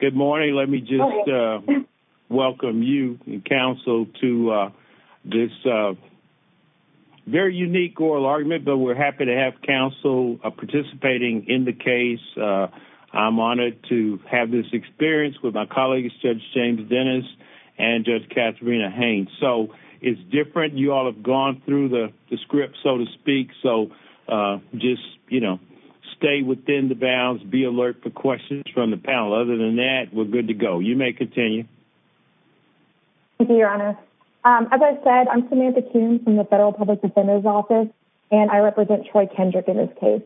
Good morning. Let me just welcome you, counsel, to this very unique oral argument, but we're happy to have counsel participating in the case. I'm honored to have this experience with my colleagues, Judge James Dennis and Judge Katharina Haynes. So it's different. You all have gone through the script, so to speak, so just, you know, stay within the bounds, be alert for questions from the panel. Other than that, we're good to go. You may continue. Thank you, Your Honor. As I said, I'm Samantha Kuhn from the Federal Public Defender's Office, and I represent Troy Kendrick in this case.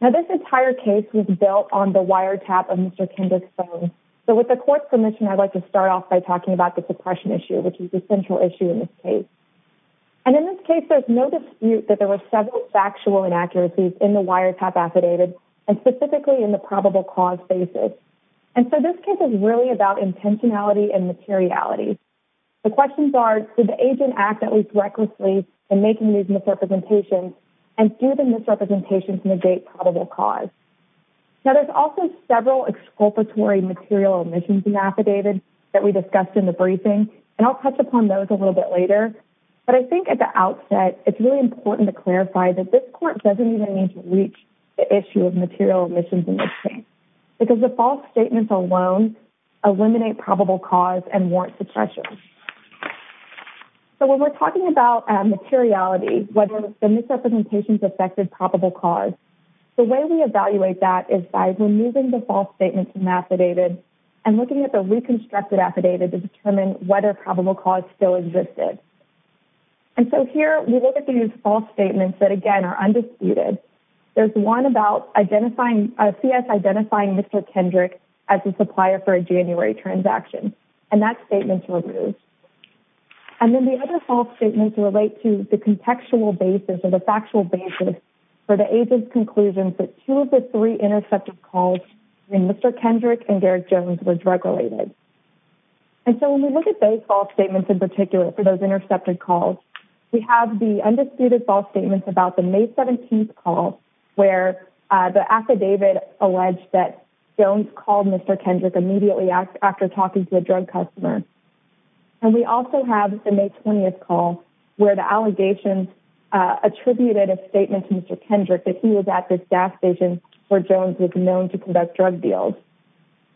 Now, this entire case was built on the wiretap of Mr. Kendrick's phone. So with the court's permission, I'd like to start off by talking about the suppression issue, which is the central issue in this case. And in this case, there's no dispute that there were several factual inaccuracies in the wiretap affidavit, and specifically in the probable cause basis. And so this case is really about intentionality and materiality. The questions are, did the agent act at least recklessly in making these misrepresentations, and do the misrepresentations negate probable cause? Now, there's also several exculpatory material omissions in the affidavit that we discussed in the briefing, and I'll touch upon those a little bit later. But I think at the outset, it's really important to clarify that this court doesn't even need to reach the issue of material omissions in this case, because the false statements alone eliminate probable cause and warrant suppression. So when we're talking about materiality, whether the misrepresentations affected probable cause, the way we evaluate that is by removing the false statements from affidavit and looking at the reconstructed affidavit to determine whether probable cause still existed. And so here, we look at these false statements that, again, are undisputed. There's one about identifying, CS identifying Mr. Kendrick as a supplier for a January transaction, and that statement's removed. And then the other false statements relate to the contextual basis or the factual basis for the agent's conclusion that two of the three intercepted calls between Mr. Kendrick and Derek Jones were drug-related. And so when we look at those false statements in particular for those intercepted calls, we have the undisputed false statements about the May 17th call where the affidavit alleged that Jones called Mr. Kendrick immediately after talking to a drug customer. And we also have the May 20th call where the allegations attributed a statement to Mr. Kendrick that he was at this gas station where Jones was known to conduct drug deals.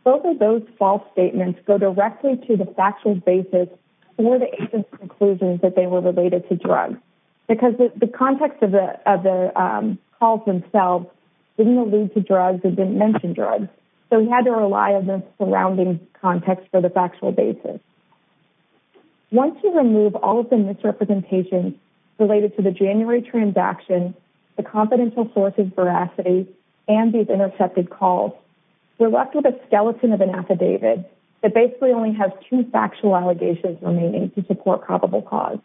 Both of those false statements go directly to the factual basis or the agent's conclusions that they were related to drugs because the context of the calls themselves didn't allude to drugs and didn't mention drugs. So we had to rely on the surrounding context for the factual basis. Once you remove all of the misrepresentations related to the January transaction, the confidential sources, veracity, and these intercepted calls, we're left with a skeleton of an affidavit that basically only has two factual allegations remaining to support probable cause.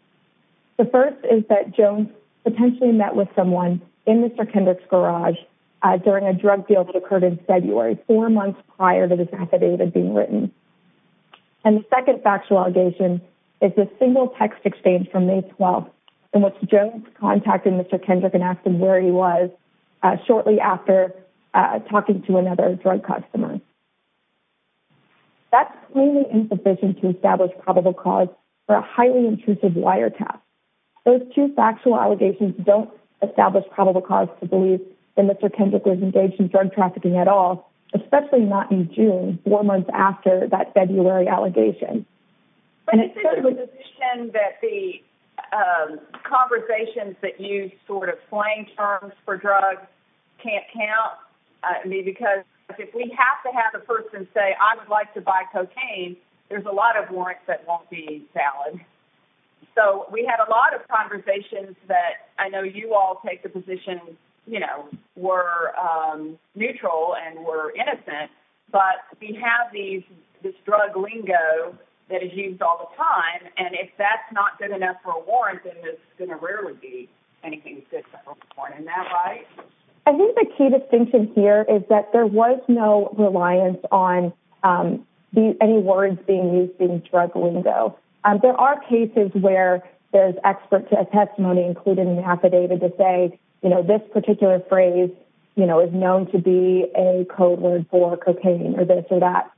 The first is that Jones potentially met with someone in Mr. Kendrick's garage during a drug deal that prior to this affidavit being written. And the second factual allegation is a single text exchange from May 12th in which Jones contacted Mr. Kendrick and asked him where he was shortly after talking to another drug customer. That's plainly insufficient to establish probable cause for a highly intrusive wiretap. Those two factual allegations don't establish probable cause to believe that Mr. Kendrick was engaged in drug trafficking at all, especially not in June, four months after that February allegation. But isn't it a position that the conversations that use sort of slang terms for drugs can't count? I mean, because if we have to have a person say, I would like to buy cocaine, there's a lot of warrants that won't be valid. So we had a lot of conversations that I know you all take the position, you know, we're neutral and we're innocent, but we have this drug lingo that is used all the time. And if that's not good enough for a warrant, then it's going to rarely be anything good for a warrant. Isn't that right? I think the key distinction here is that there was no reliance on any words being used in relation to this particular phrase, you know, is known to be a code word for cocaine or this or that.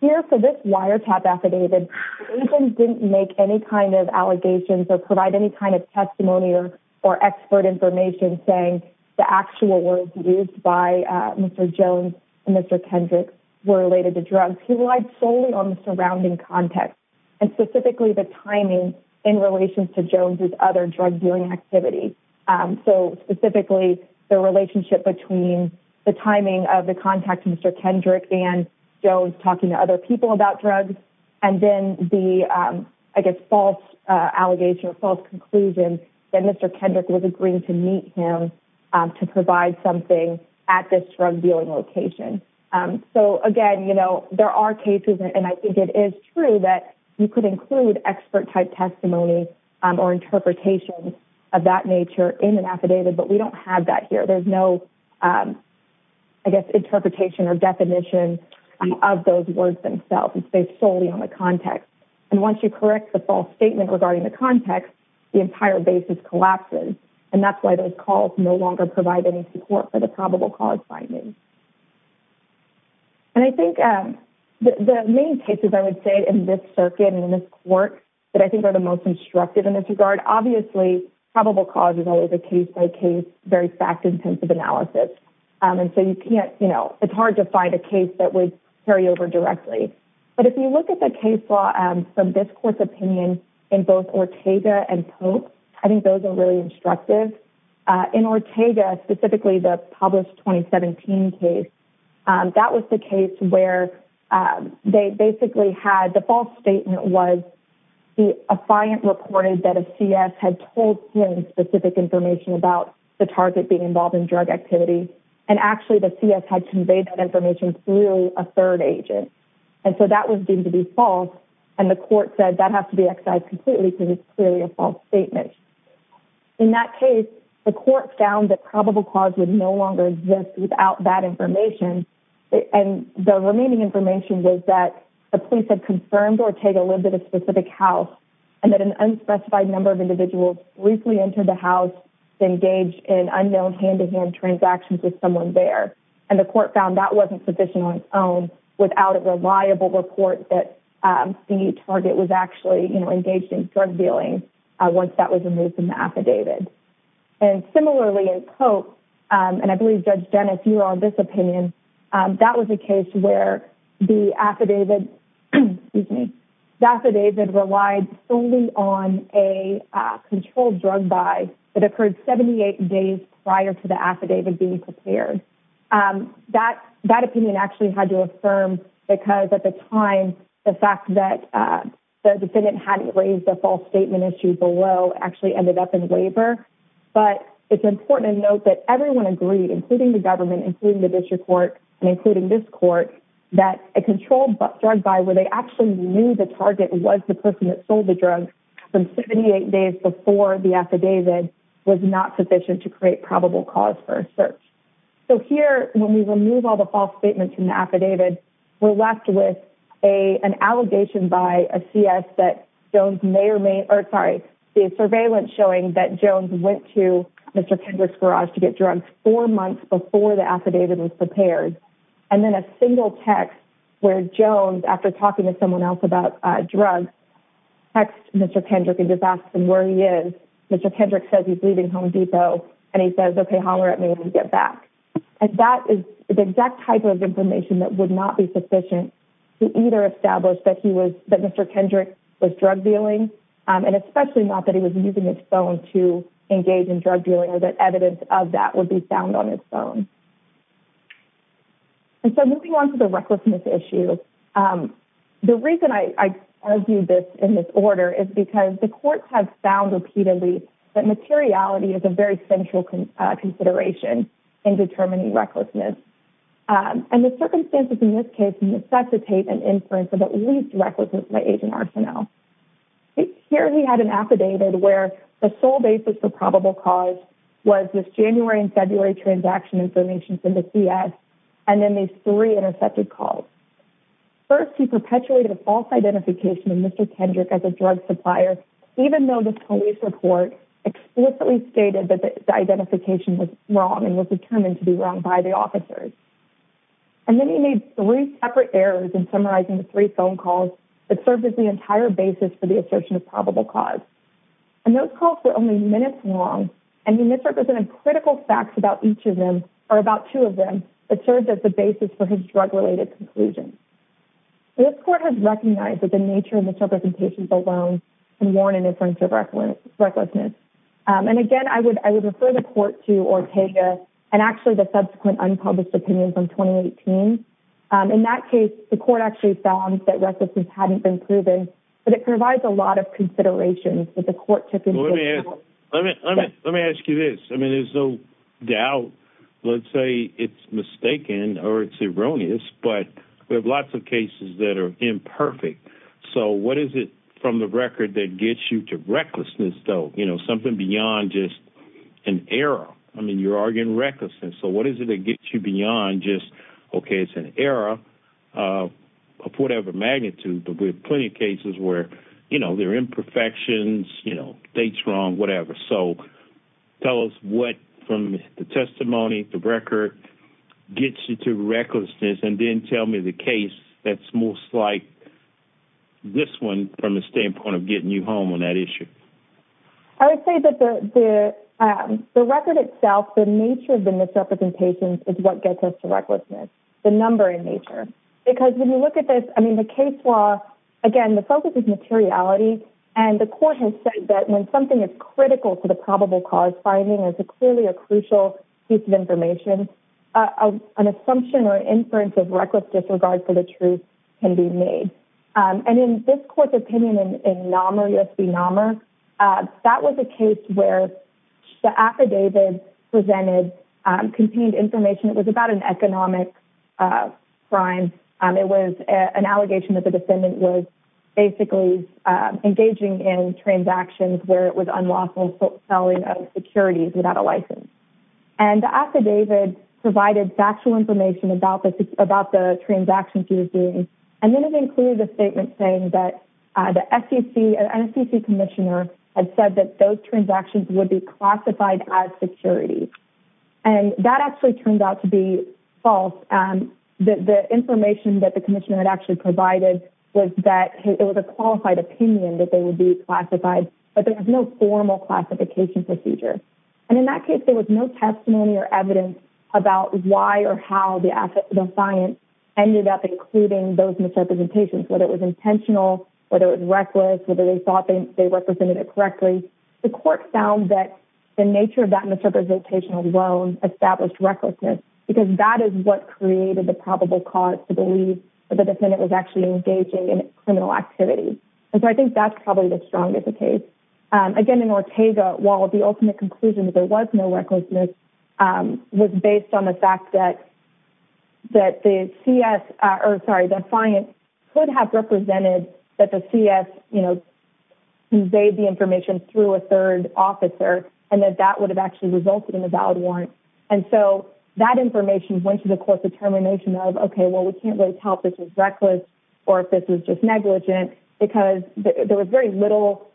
Here for this wiretap affidavit, agents didn't make any kind of allegations or provide any kind of testimony or expert information saying the actual words used by Mr. Jones and Mr. Kendrick were related to drugs. He relied solely on the surrounding context and specifically the timing in relation to Jones's other drug dealing activity. So specifically the relationship between the timing of the contact, Mr. Kendrick and Jones talking to other people about drugs, and then the, I guess, false allegation or false conclusion that Mr. Kendrick was agreeing to meet him to provide something at this drug dealing location. So again, you know, there are cases and I think it is true that you could include expert type testimony or interpretation of that nature in an affidavit, but we don't have that here. There's no, I guess, interpretation or definition of those words themselves. It's based solely on the context. And once you correct the false statement regarding the context, the entire basis collapses. And that's why those calls no longer provide any support for the probable cause findings. And I think the main cases I would say in this circuit and in this court that I think are the most instructive in this regard, obviously probable cause is always a case-by-case, very fact-intensive analysis. And so you can't, you know, it's hard to find a case that would carry over directly. But if you look at the case law from this court's opinion in both Ortega and Pope, I think those are really instructive. In Ortega, specifically the published 2017 case, that was the case where they basically had the false statement was a client reported that a CS had told him specific information about the target being involved in drug activity. And actually the CS had conveyed that information through a third agent. And so that was deemed to be false. And the court said that has to be excised completely because it's clearly a false statement. In that case, the court found that probable cause would no longer exist without that information. And the remaining information was that the police had confirmed Ortega lived at a specific house and that an unspecified number of individuals briefly entered the house to engage in unknown hand-to-hand transactions with someone there. And the court found that wasn't sufficient on its own without a reliable report that the target was actually, you know, engaged in drug dealing once that was removed from the affidavit. And similarly in Pope, and I believe Judge Dennis, you're on this opinion, that was a case where the affidavit relied solely on a controlled drug buy that occurred 78 days prior to the affidavit being prepared. That opinion actually had to affirm because at the time the fact that the defendant hadn't raised a false statement issue below actually ended up in labor. But it's important to note that everyone agreed, including the government, including the district court, and including this court, that a controlled drug buy where they actually knew the target was the person that sold the drug from 78 days before the affidavit was not sufficient to create probable cause for a search. So here, when we remove all the false statements in the affidavit, we're left with an allegation by a CS that Jones may or may, or sorry, the surveillance showing that Jones went to Mr. Kendrick's garage to get drugs four months before the affidavit was prepared. And then a single text where Jones, after talking to someone else about drugs, text Mr. Kendrick and just asked him where he is. Mr. Kendrick says he's leaving Home Depot. And he says, okay, holler at me when we get back. And that is the exact type of information that would not be sufficient to either establish that Mr. Kendrick was drug dealing, and especially not that he was using his phone to engage in drug dealing or that evidence of that would be found on his phone. And so moving on to the recklessness issue, the reason I argue this in this order is because the courts have found repeatedly that materiality is a very central consideration in determining recklessness. And the circumstances in this case necessitate an inference of at least recklessness by agent arsenal. Here we had an affidavit where the sole basis for probable cause was this January and February transaction information from the CS, and then these three intercepted calls. First, he perpetuated a false identification of Mr. Kendrick as a drug supplier, even though the police report explicitly stated that the identification was wrong and was determined to be wrong by the officers. And then he made three separate errors in summarizing the three phone calls that served as the entire basis for the assertion of probable cause. And those calls were only minutes long, and he misrepresented critical facts about each of them, or about two of them, that served as the basis for his drug-related conclusion. This court has recognized that the nature of misrepresentations alone can warn an inference of recklessness. And again, I would refer the court to Ortega and actually the subsequent unpublished opinion from 2018. In that case, the court actually found that recklessness hadn't been proven, but it provides a lot of considerations that the court took into account. Well, let me ask you this. I mean, there's no doubt, let's say it's mistaken or it's erroneous, but we have lots of cases that are imperfect. So what is it from the record that gets you to an error? I mean, you're arguing recklessness. So what is it that gets you beyond just, okay, it's an error of whatever magnitude, but we have plenty of cases where, you know, there are imperfections, you know, dates wrong, whatever. So tell us what, from the testimony, the record, gets you to recklessness, and then tell me the case that's most like this one from the standpoint of getting you home on that issue. I would say that the record itself, the nature of the misrepresentations is what gets us to recklessness, the number in nature. Because when you look at this, I mean, the case law, again, the focus is materiality. And the court has said that when something is critical to the probable cause finding is clearly a crucial piece of information, an assumption or inference of a case. This court's opinion in NAMR, U.S. v. NAMR, that was a case where the affidavit presented contained information. It was about an economic crime. It was an allegation that the defendant was basically engaging in transactions where it was unlawful selling of securities without a license. And the affidavit provided factual information about the transactions he was doing. And then it included a statement saying that the SEC, an SEC commissioner, had said that those transactions would be classified as securities. And that actually turned out to be false. The information that the commissioner had actually provided was that it was a qualified opinion that they would be classified, but there was no formal classification procedure. And in that case, there was no testimony or evidence about why or how the science ended up including those misrepresentations, whether it was intentional, whether it was reckless, whether they thought they represented it correctly. The court found that the nature of that misrepresentation alone established recklessness, because that is what created the probable cause to believe that the defendant was actually engaging in criminal activity. And so I think that's probably the strongest case. Again, in Ortega, while the ultimate conclusion that there could have represented that the CS conveyed the information through a third officer, and that that would have actually resulted in a valid warrant. And so that information went to the court's determination of, okay, well, we can't really tell if this is reckless or if this is just negligent, because there was very little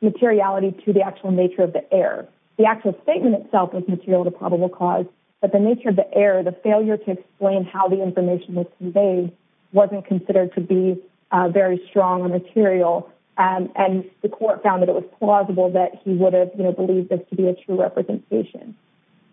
materiality to the actual nature of the error. The actual statement itself was material to probable cause, but the nature of the error, the failure to explain how the information was conveyed, wasn't considered to be very strong or material. And the court found that it was plausible that he would have believed this to be a true representation.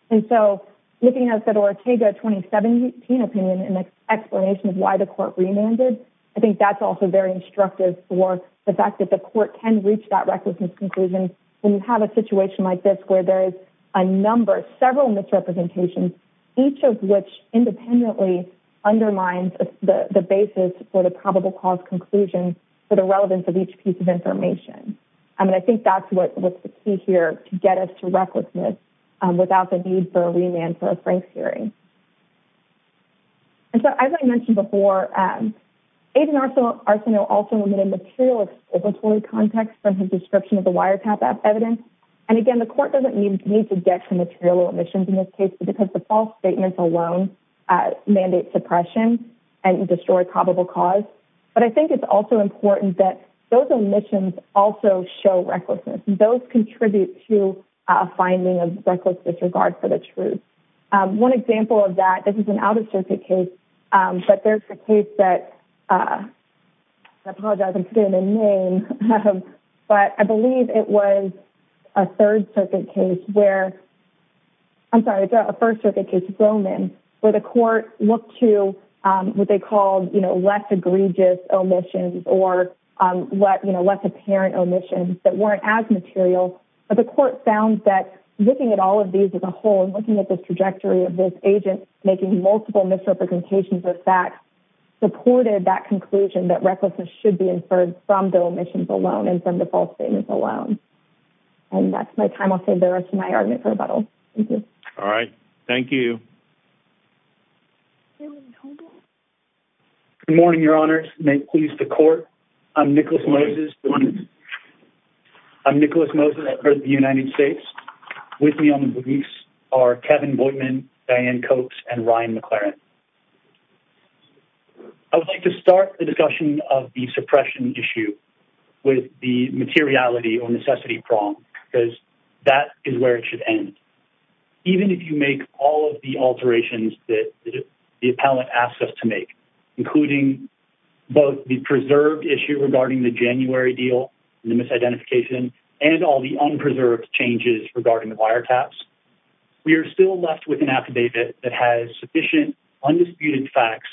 And so looking at the Ortega 2017 opinion and the explanation of why the court remanded, I think that's also very instructive for the fact that the court can reach that recklessness conclusion when you have a situation like this, where there is a number, several misrepresentations, each of which independently undermines the basis for the probable cause conclusion for the relevance of each piece of information. And I think that's what's the key here, to get us to recklessness without the need for a remand for a Frank's hearing. And so as I mentioned before, Aiden Arsenault also omitted material exploratory context from his description of the wiretap evidence. And again, the court doesn't need to get to omissions in this case, because the false statements alone mandate suppression and destroy probable cause. But I think it's also important that those omissions also show recklessness. Those contribute to a finding of reckless disregard for the truth. One example of that, this is an out of circuit case, but there's a case that, I apologize I'm putting the name, but I believe it was a third circuit case where, I'm sorry, a first circuit case, Roman, where the court looked to what they called, less egregious omissions or less apparent omissions that weren't as material. But the court found that looking at all of these as a whole, and looking at this trajectory of this agent, making multiple misrepresentations of facts, supported that conclusion that recklessness should be inferred from the omissions alone and from the false statements alone. And that's my time. I'll save the rest of my argument for rebuttal. Thank you. All right. Thank you. Good morning, your honors. May it please the court. I'm Nicholas Moses. I'm Nicholas Moses at the United States. With me on the briefs are Kevin Boydman, Diane Coates, and Ryan McLaren. I would like to start the discussion of the suppression issue with the materiality or necessity prong, because that is where it should end. Even if you make all of the alterations that the appellant asks us to make, including both the preserved issue regarding the January deal, the misidentification, and all the unpreserved changes regarding the that has sufficient undisputed facts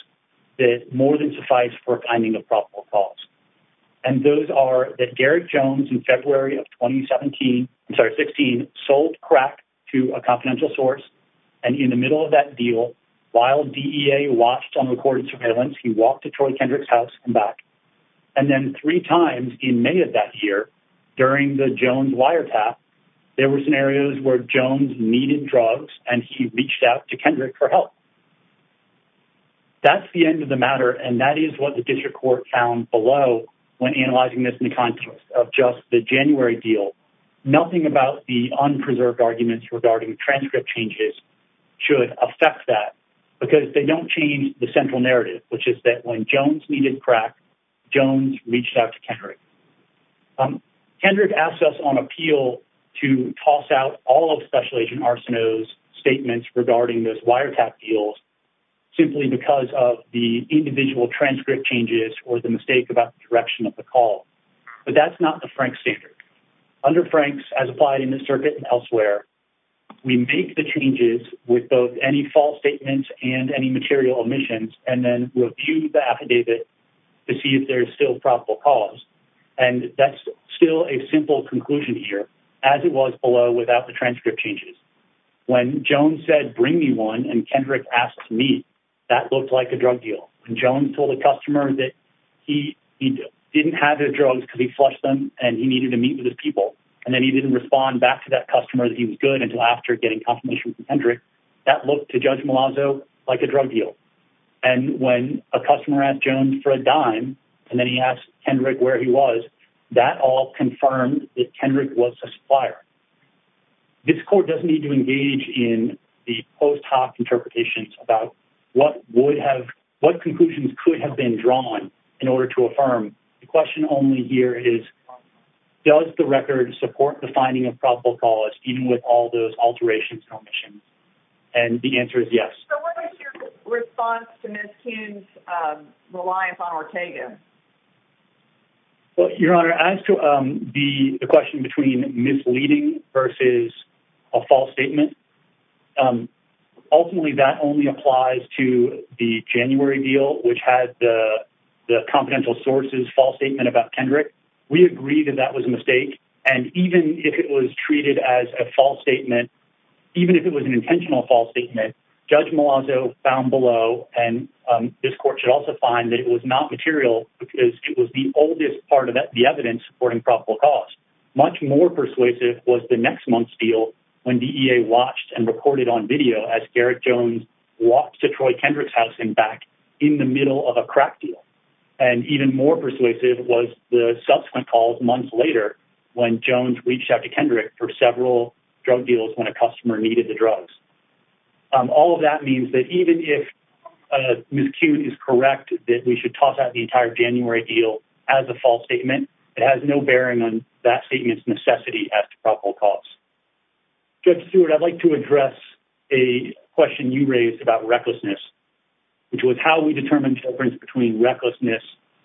that more than suffice for finding a probable cause. And those are that Garrett Jones in February of 2017, I'm sorry, 16, sold crack to a confidential source. And in the middle of that deal, while DEA watched on recorded surveillance, he walked to Troy Kendrick's house and back. And then three times in many of that year, during the Jones wire there were scenarios where Jones needed drugs and he reached out to Kendrick for help. That's the end of the matter. And that is what the district court found below. When analyzing this in the context of just the January deal, nothing about the unpreserved arguments regarding transcript changes should affect that because they don't change the central narrative, which is that when Jones needed crack, Jones reached out to Kendrick. Kendrick asks us on appeal to toss out all of Special Agent Arsenault's statements regarding those wiretap deals simply because of the individual transcript changes or the mistake about the direction of the call. But that's not the Frank standard. Under Frank's, as applied in this circuit and elsewhere, we make the changes with both any statements and any material omissions and then review the affidavit to see if there's still probable cause. And that's still a simple conclusion here as it was below without the transcript changes. When Jones said, bring me one and Kendrick asked me, that looked like a drug deal. And Jones told the customer that he didn't have the drugs because he flushed them and he needed to meet with his people. And then he didn't respond back to that customer that he was good after getting confirmation from Kendrick that looked to Judge Malazzo like a drug deal. And when a customer asked Jones for a dime and then he asked Kendrick where he was, that all confirmed that Kendrick was a supplier. This court doesn't need to engage in the post hoc interpretations about what conclusions could have been drawn in order to affirm. The question only here is, does the record support the finding of probable cause even with all those alterations and omissions? And the answer is yes. So what is your response to Ms. Kuhn's reliance on Ortega? Well, Your Honor, as to the question between misleading versus a false statement, ultimately that only applies to the January deal, which had the confidential sources, false statement about Kendrick. We agree that that was a mistake. And even if it was treated as a false statement, even if it was an intentional false statement, Judge Malazzo found below, and this court should also find that it was not material because it was the oldest part of the evidence supporting probable cause. Much more persuasive was the next month's deal when DEA watched and recorded on video as Garrett Jones walked to Troy Kendrick's house and back in the middle of a crack deal. And even more persuasive was the subsequent calls months later when Jones reached out to Kendrick for several drug deals when a customer needed the drugs. All of that means that even if Ms. Kuhn is correct that we should toss out the entire January deal as a false statement, it has no bearing on that statement's necessity as to probable cause. Judge Stewart, I'd like to address a question you raised about recklessness, which was how we determine the difference between recklessness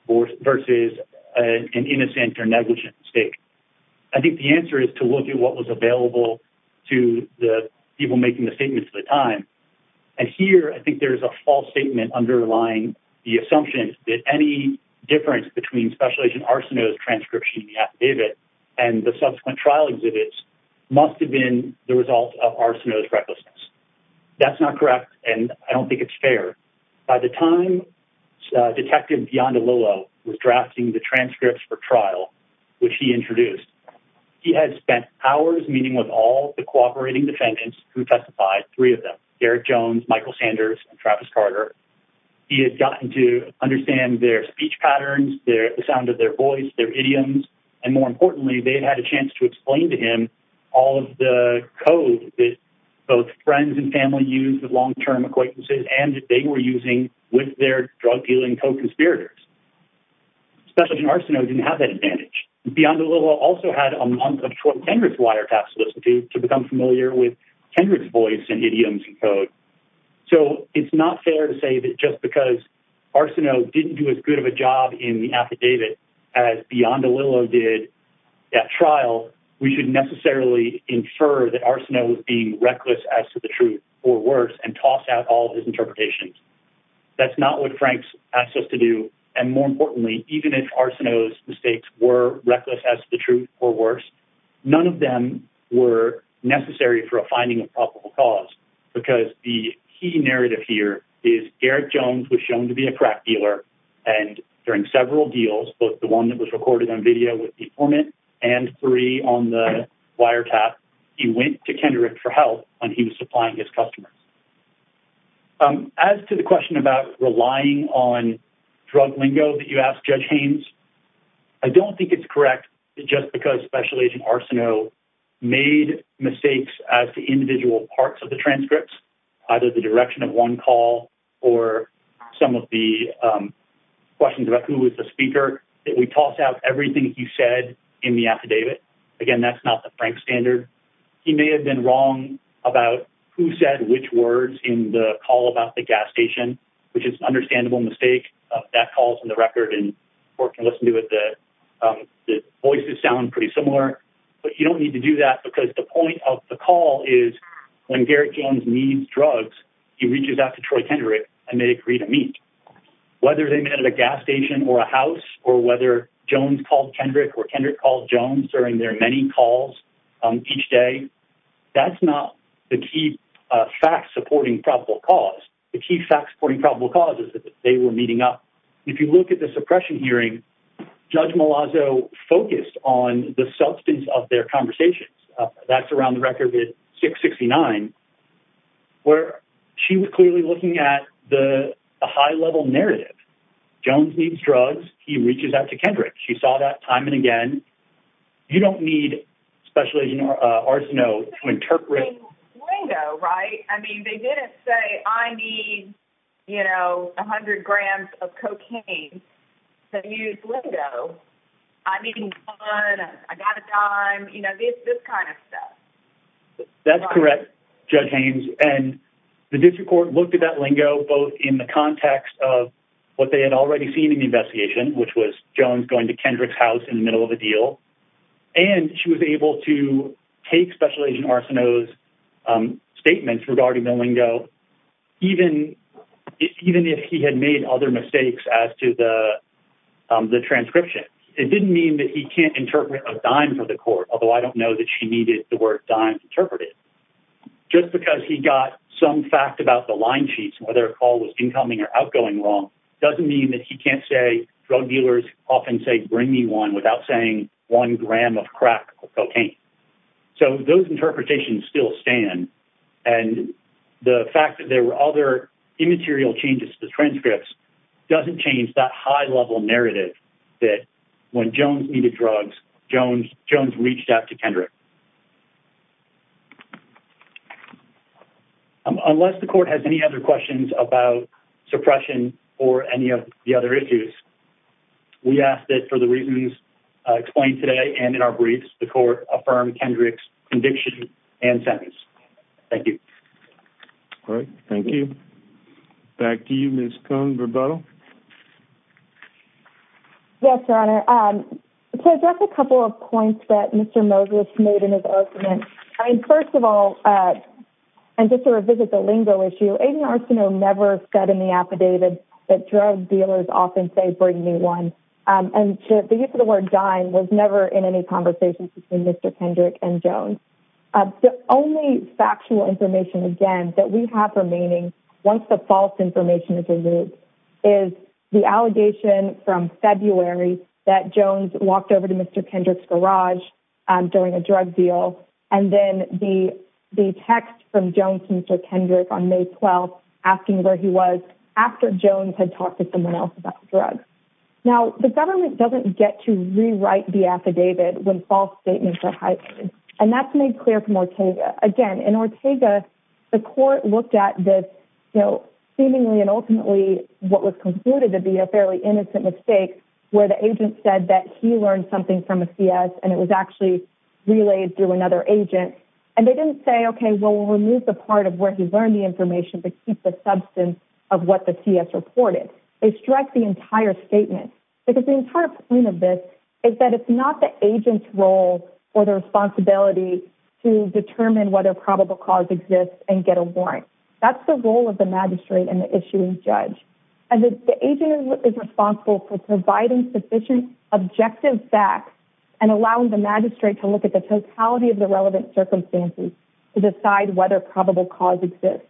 versus an innocent or negligent mistake. I think the answer is to look at what was available to the people making the statements at the time. And here, I think there's a false statement underlying the assumption that any difference between special agent Arsenault's transcription in the affidavit and the subsequent trial exhibits must have been the result of Arsenault's recklessness. That's not correct, and I don't think it's fair. By the time Detective Dion DeLillo was drafting the transcripts for trial, which he introduced, he had spent hours meeting with all the cooperating defendants who testified, three of them, Garrett Jones, Michael Sanders, and Travis Carter. He had gotten to understand their speech patterns, the sound of their voice, their idioms, and more importantly, they had had a chance to explain to him all of the code that both friends and family use with long-term acquaintances and that they were using with their drug-dealing co-conspirators. Special agent Arsenault didn't have that advantage. Dion DeLillo also had a month of short, tenuous wiretaps to listen to to become familiar with Kendrick's voice and idioms and code. So, it's not fair to say that just because Arsenault didn't do as good of a job in the affidavit as Dion DeLillo did at trial, we should necessarily infer that Arsenault was being reckless as to the truth, or worse, and tossed out all of his interpretations. That's not what Franks asked us to do, and more importantly, even if Arsenault's mistakes were reckless as to the truth, or worse, none of them were necessary for a finding of probable cause, because the key narrative here is Garrett Jones was shown to be a crack dealer, and during several deals, both the one that was on the wiretap, he went to Kendrick for help when he was supplying his customers. As to the question about relying on drug lingo that you asked Judge Haynes, I don't think it's correct that just because Special Agent Arsenault made mistakes as to individual parts of the transcripts, either the direction of one call or some of the questions about who was the speaker, that we toss out everything he said in the affidavit. Again, that's not the Franks standard. He may have been wrong about who said which words in the call about the gas station, which is an understandable mistake. That call is in the record, and people can listen to it. The voices sound pretty similar, but you don't need to do that, because the point of the call is when Garrett Jones needs drugs, he reaches out to Troy Kendrick, and they agree to meet. Whether they met at a gas station or a house or whether Jones called Kendrick or Kendrick called Jones during their many calls each day, that's not the key fact supporting probable cause. The key fact supporting probable cause is that they were meeting up. If you look at the suppression hearing, Judge Malazzo focused on the substance of their conversations. That's around the record 669, where she was clearly looking at the high-level narrative. Jones needs drugs. He reaches out to Kendrick. She saw that time and again. You don't need special agent Arsenault to interpret. They didn't say, I need 100 grams of cocaine to use Lingo. I need one. I got a dime. This kind of stuff. That's correct, Judge Haynes. The district court looked at that Lingo both in the context of what they had already seen in the investigation, which was Jones going to Kendrick's house in the middle of a deal, and she was able to take special agent Arsenault's statements regarding the Lingo, even if he had made other mistakes as to the transcription. It didn't mean that he can't interpret a dime for the court, although I don't know that she needed the word dime interpreted. Just because he got some fact about the line sheets, whether a call was incoming or outgoing wrong, doesn't mean that he can't say drug dealers often say, bring me one without saying one gram of crack cocaine. Those interpretations still stand. The fact that there were other immaterial changes to the transcripts doesn't change that high-level narrative that when Jones needed drugs, Jones reached out to Kendrick. Unless the court has any other questions about suppression or any of the other issues, we ask that for the reasons explained today and in our briefs, the court affirm Kendrick's conviction and sentence. Thank you. All right. Thank you. Back to you, Ms. Cohn-Verbuttal. Yes, Your Honor. To address a couple of points that Mr. Moses made in his opening, I mean, first of all, and just to revisit the Lingo issue, agent Arsenault never said in the affidavit that drug dealers often say, bring me one. And the use of the word dime was never in any conversations between Mr. Kendrick and Jones. The only factual information, again, that we have remaining once the false information is removed is the allegation from February that Jones walked over to Mr. Kendrick's garage during a drug deal. And then the text from Jones to Mr. Kendrick on May 12th asking where he was after Jones had talked to someone else about drugs. Now, the government doesn't get to rewrite the affidavit when false statements are highlighted. And that's made clear from Ortega. Again, in Ortega, the court looked at this seemingly and ultimately what was concluded to be a fairly innocent mistake where the agent said that he learned something from a CS and it was actually relayed through another agent. And they didn't say, okay, well, we'll remove the part of where he learned the information but keep the substance of what the CS reported. They strike the entire statement. Because the entire point of this is that it's not the agent's role or the responsibility to determine whether probable cause exists and get a warrant. That's the role of the magistrate and the issuing judge. And the agent is responsible for providing sufficient objective facts and allowing the magistrate to look at the totality of the relevant circumstances to decide whether probable cause exists.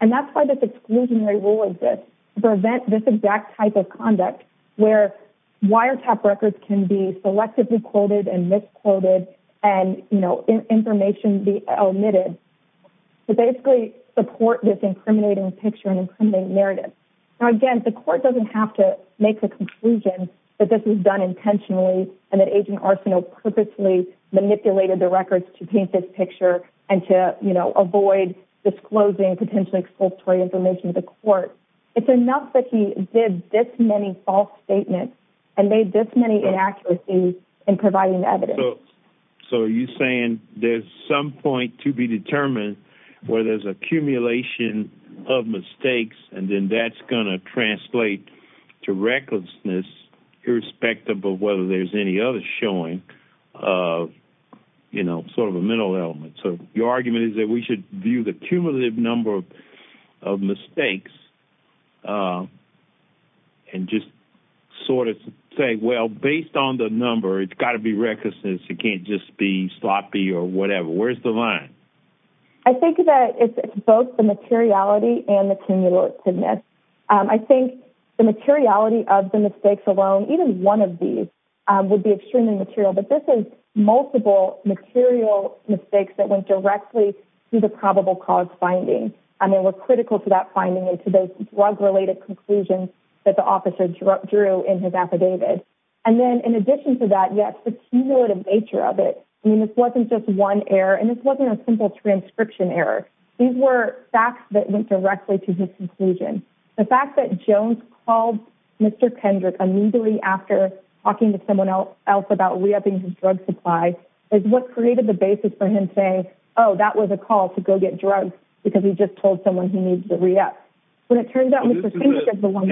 And that's why this exclusionary rule exists to prevent this exact type of conduct where wiretap records can be selectively quoted and misquoted and, you know, information be omitted to basically support this incriminating picture and incriminating narrative. Now, again, the court doesn't have to make a conclusion that this was done intentionally and that Agent Arsenault purposely manipulated the records to paint this picture and to, you know, avoid disclosing potentially expulsory information to the court. It's enough that he did this many false statements and made this many inaccuracies in providing evidence. So are you saying there's some point to be determined where there's accumulation of mistakes and then that's going to translate to recklessness irrespective of whether there's any other showing of, you know, sort of a mental element. So your argument is that we should view the cumulative number of mistakes and just sort of say, well, based on the number, it's got to be recklessness. It can't just be sloppy or whatever. Where's the line? I think that it's both the materiality and the cumulativeness. I think the materiality of the mistakes alone, even one of these, would be extremely material. But this is multiple mistakes that went directly to the probable cause finding. And they were critical to that finding and to those drug-related conclusions that the officer drew in his affidavit. And then in addition to that, yes, the cumulative nature of it. I mean, this wasn't just one error and this wasn't a simple transcription error. These were facts that went directly to his conclusion. The fact that Jones called Mr. Kendrick immediately after talking to someone else about re-upping his drug supply is what created the basis for him saying, oh, that was a call to go get drugs because he just told someone he needs to re-up. But it turns out Mr. Kendrick is the one.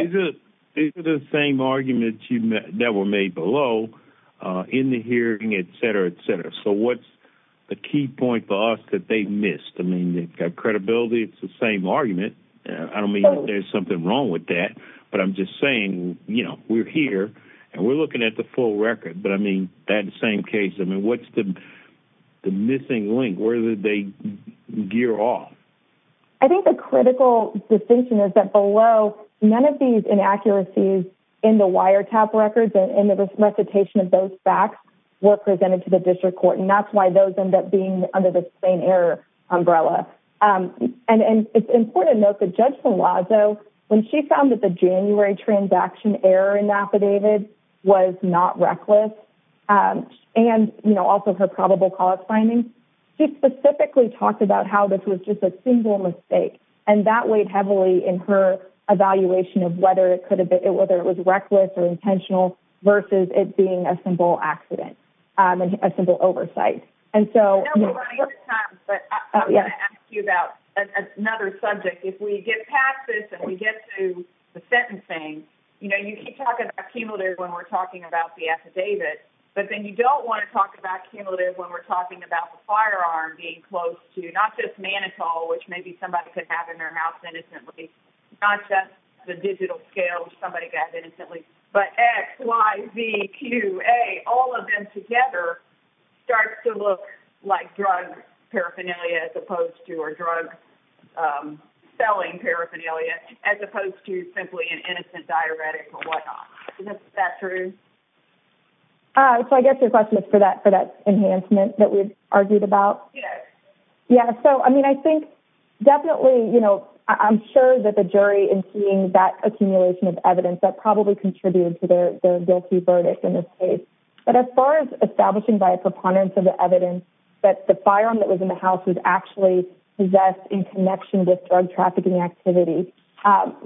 These are the same arguments that were made below in the hearing, et cetera, et cetera. So what's the key point for us that they missed? I mean, they've got credibility. It's the same argument. I don't mean that there's something wrong with that. But I'm just saying, you know, we're here and we're looking at the full record. But I mean, that same case, I mean, what's the missing link? Where did they gear off? I think the critical distinction is that below, none of these inaccuracies in the wiretap records and in the recitation of those facts were presented to the district court. And that's why those end up being under the same error umbrella. And it's important to note that Judge Malazzo, when she found that the January transaction error in Napa David was not reckless and, you know, also her probable cause findings, she specifically talked about how this was just a single mistake. And that weighed heavily in her evaluation of whether it was reckless or intentional versus it being a simple accident and a simple oversight. And so... I know we're running out of time, but I'm going to ask you about another subject. If we get past this and we get to the sentencing, you know, you can talk about cumulative when we're talking about the affidavit, but then you don't want to talk about cumulative when we're talking about the firearm being close to not just Manitou, which maybe somebody could have in their mouth innocently, not just the digital scale somebody got innocently, but X, Y, Z, Q, A, all of them together starts to look like drug paraphernalia as opposed to, or drug selling paraphernalia, as opposed to simply an innocent diuretic or whatnot. Is that true? So I guess your question is for that enhancement that we've argued about. Yeah. So, I mean, I think definitely, you know, I'm sure that the jury in seeing that contributed to their guilty verdict in this case. But as far as establishing by a preponderance of the evidence that the firearm that was in the house was actually possessed in connection with drug trafficking activity,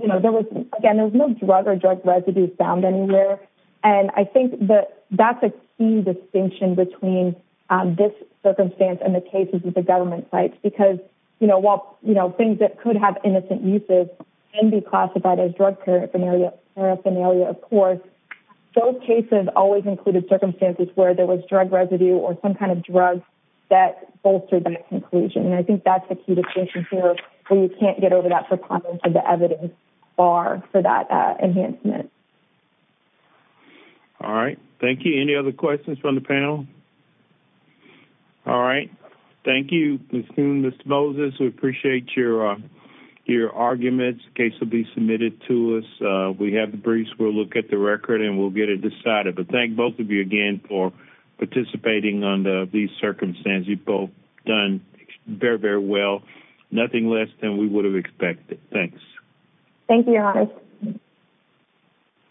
you know, there was, again, there was no drug or drug residues found anywhere. And I think that that's a key distinction between this circumstance and the cases with the government sites, because, you know, while, you know, things that could have innocent uses can be classified as drug paraphernalia, of course, those cases always included circumstances where there was drug residue or some kind of drug that bolstered that conclusion. And I think that's the key distinction here where you can't get over that preponderance of the evidence bar for that enhancement. All right. Thank you. Any other questions from the panel? All right. Thank you, Ms. Coon, Mr. Moses. We appreciate your arguments. The case will be submitted to us. We have the briefs. We'll look at the record and we'll get it decided. But thank both of you again for participating on these circumstances. You've both done very, very well. Nothing less than we would have expected. Thanks. Thank you, Your Honor.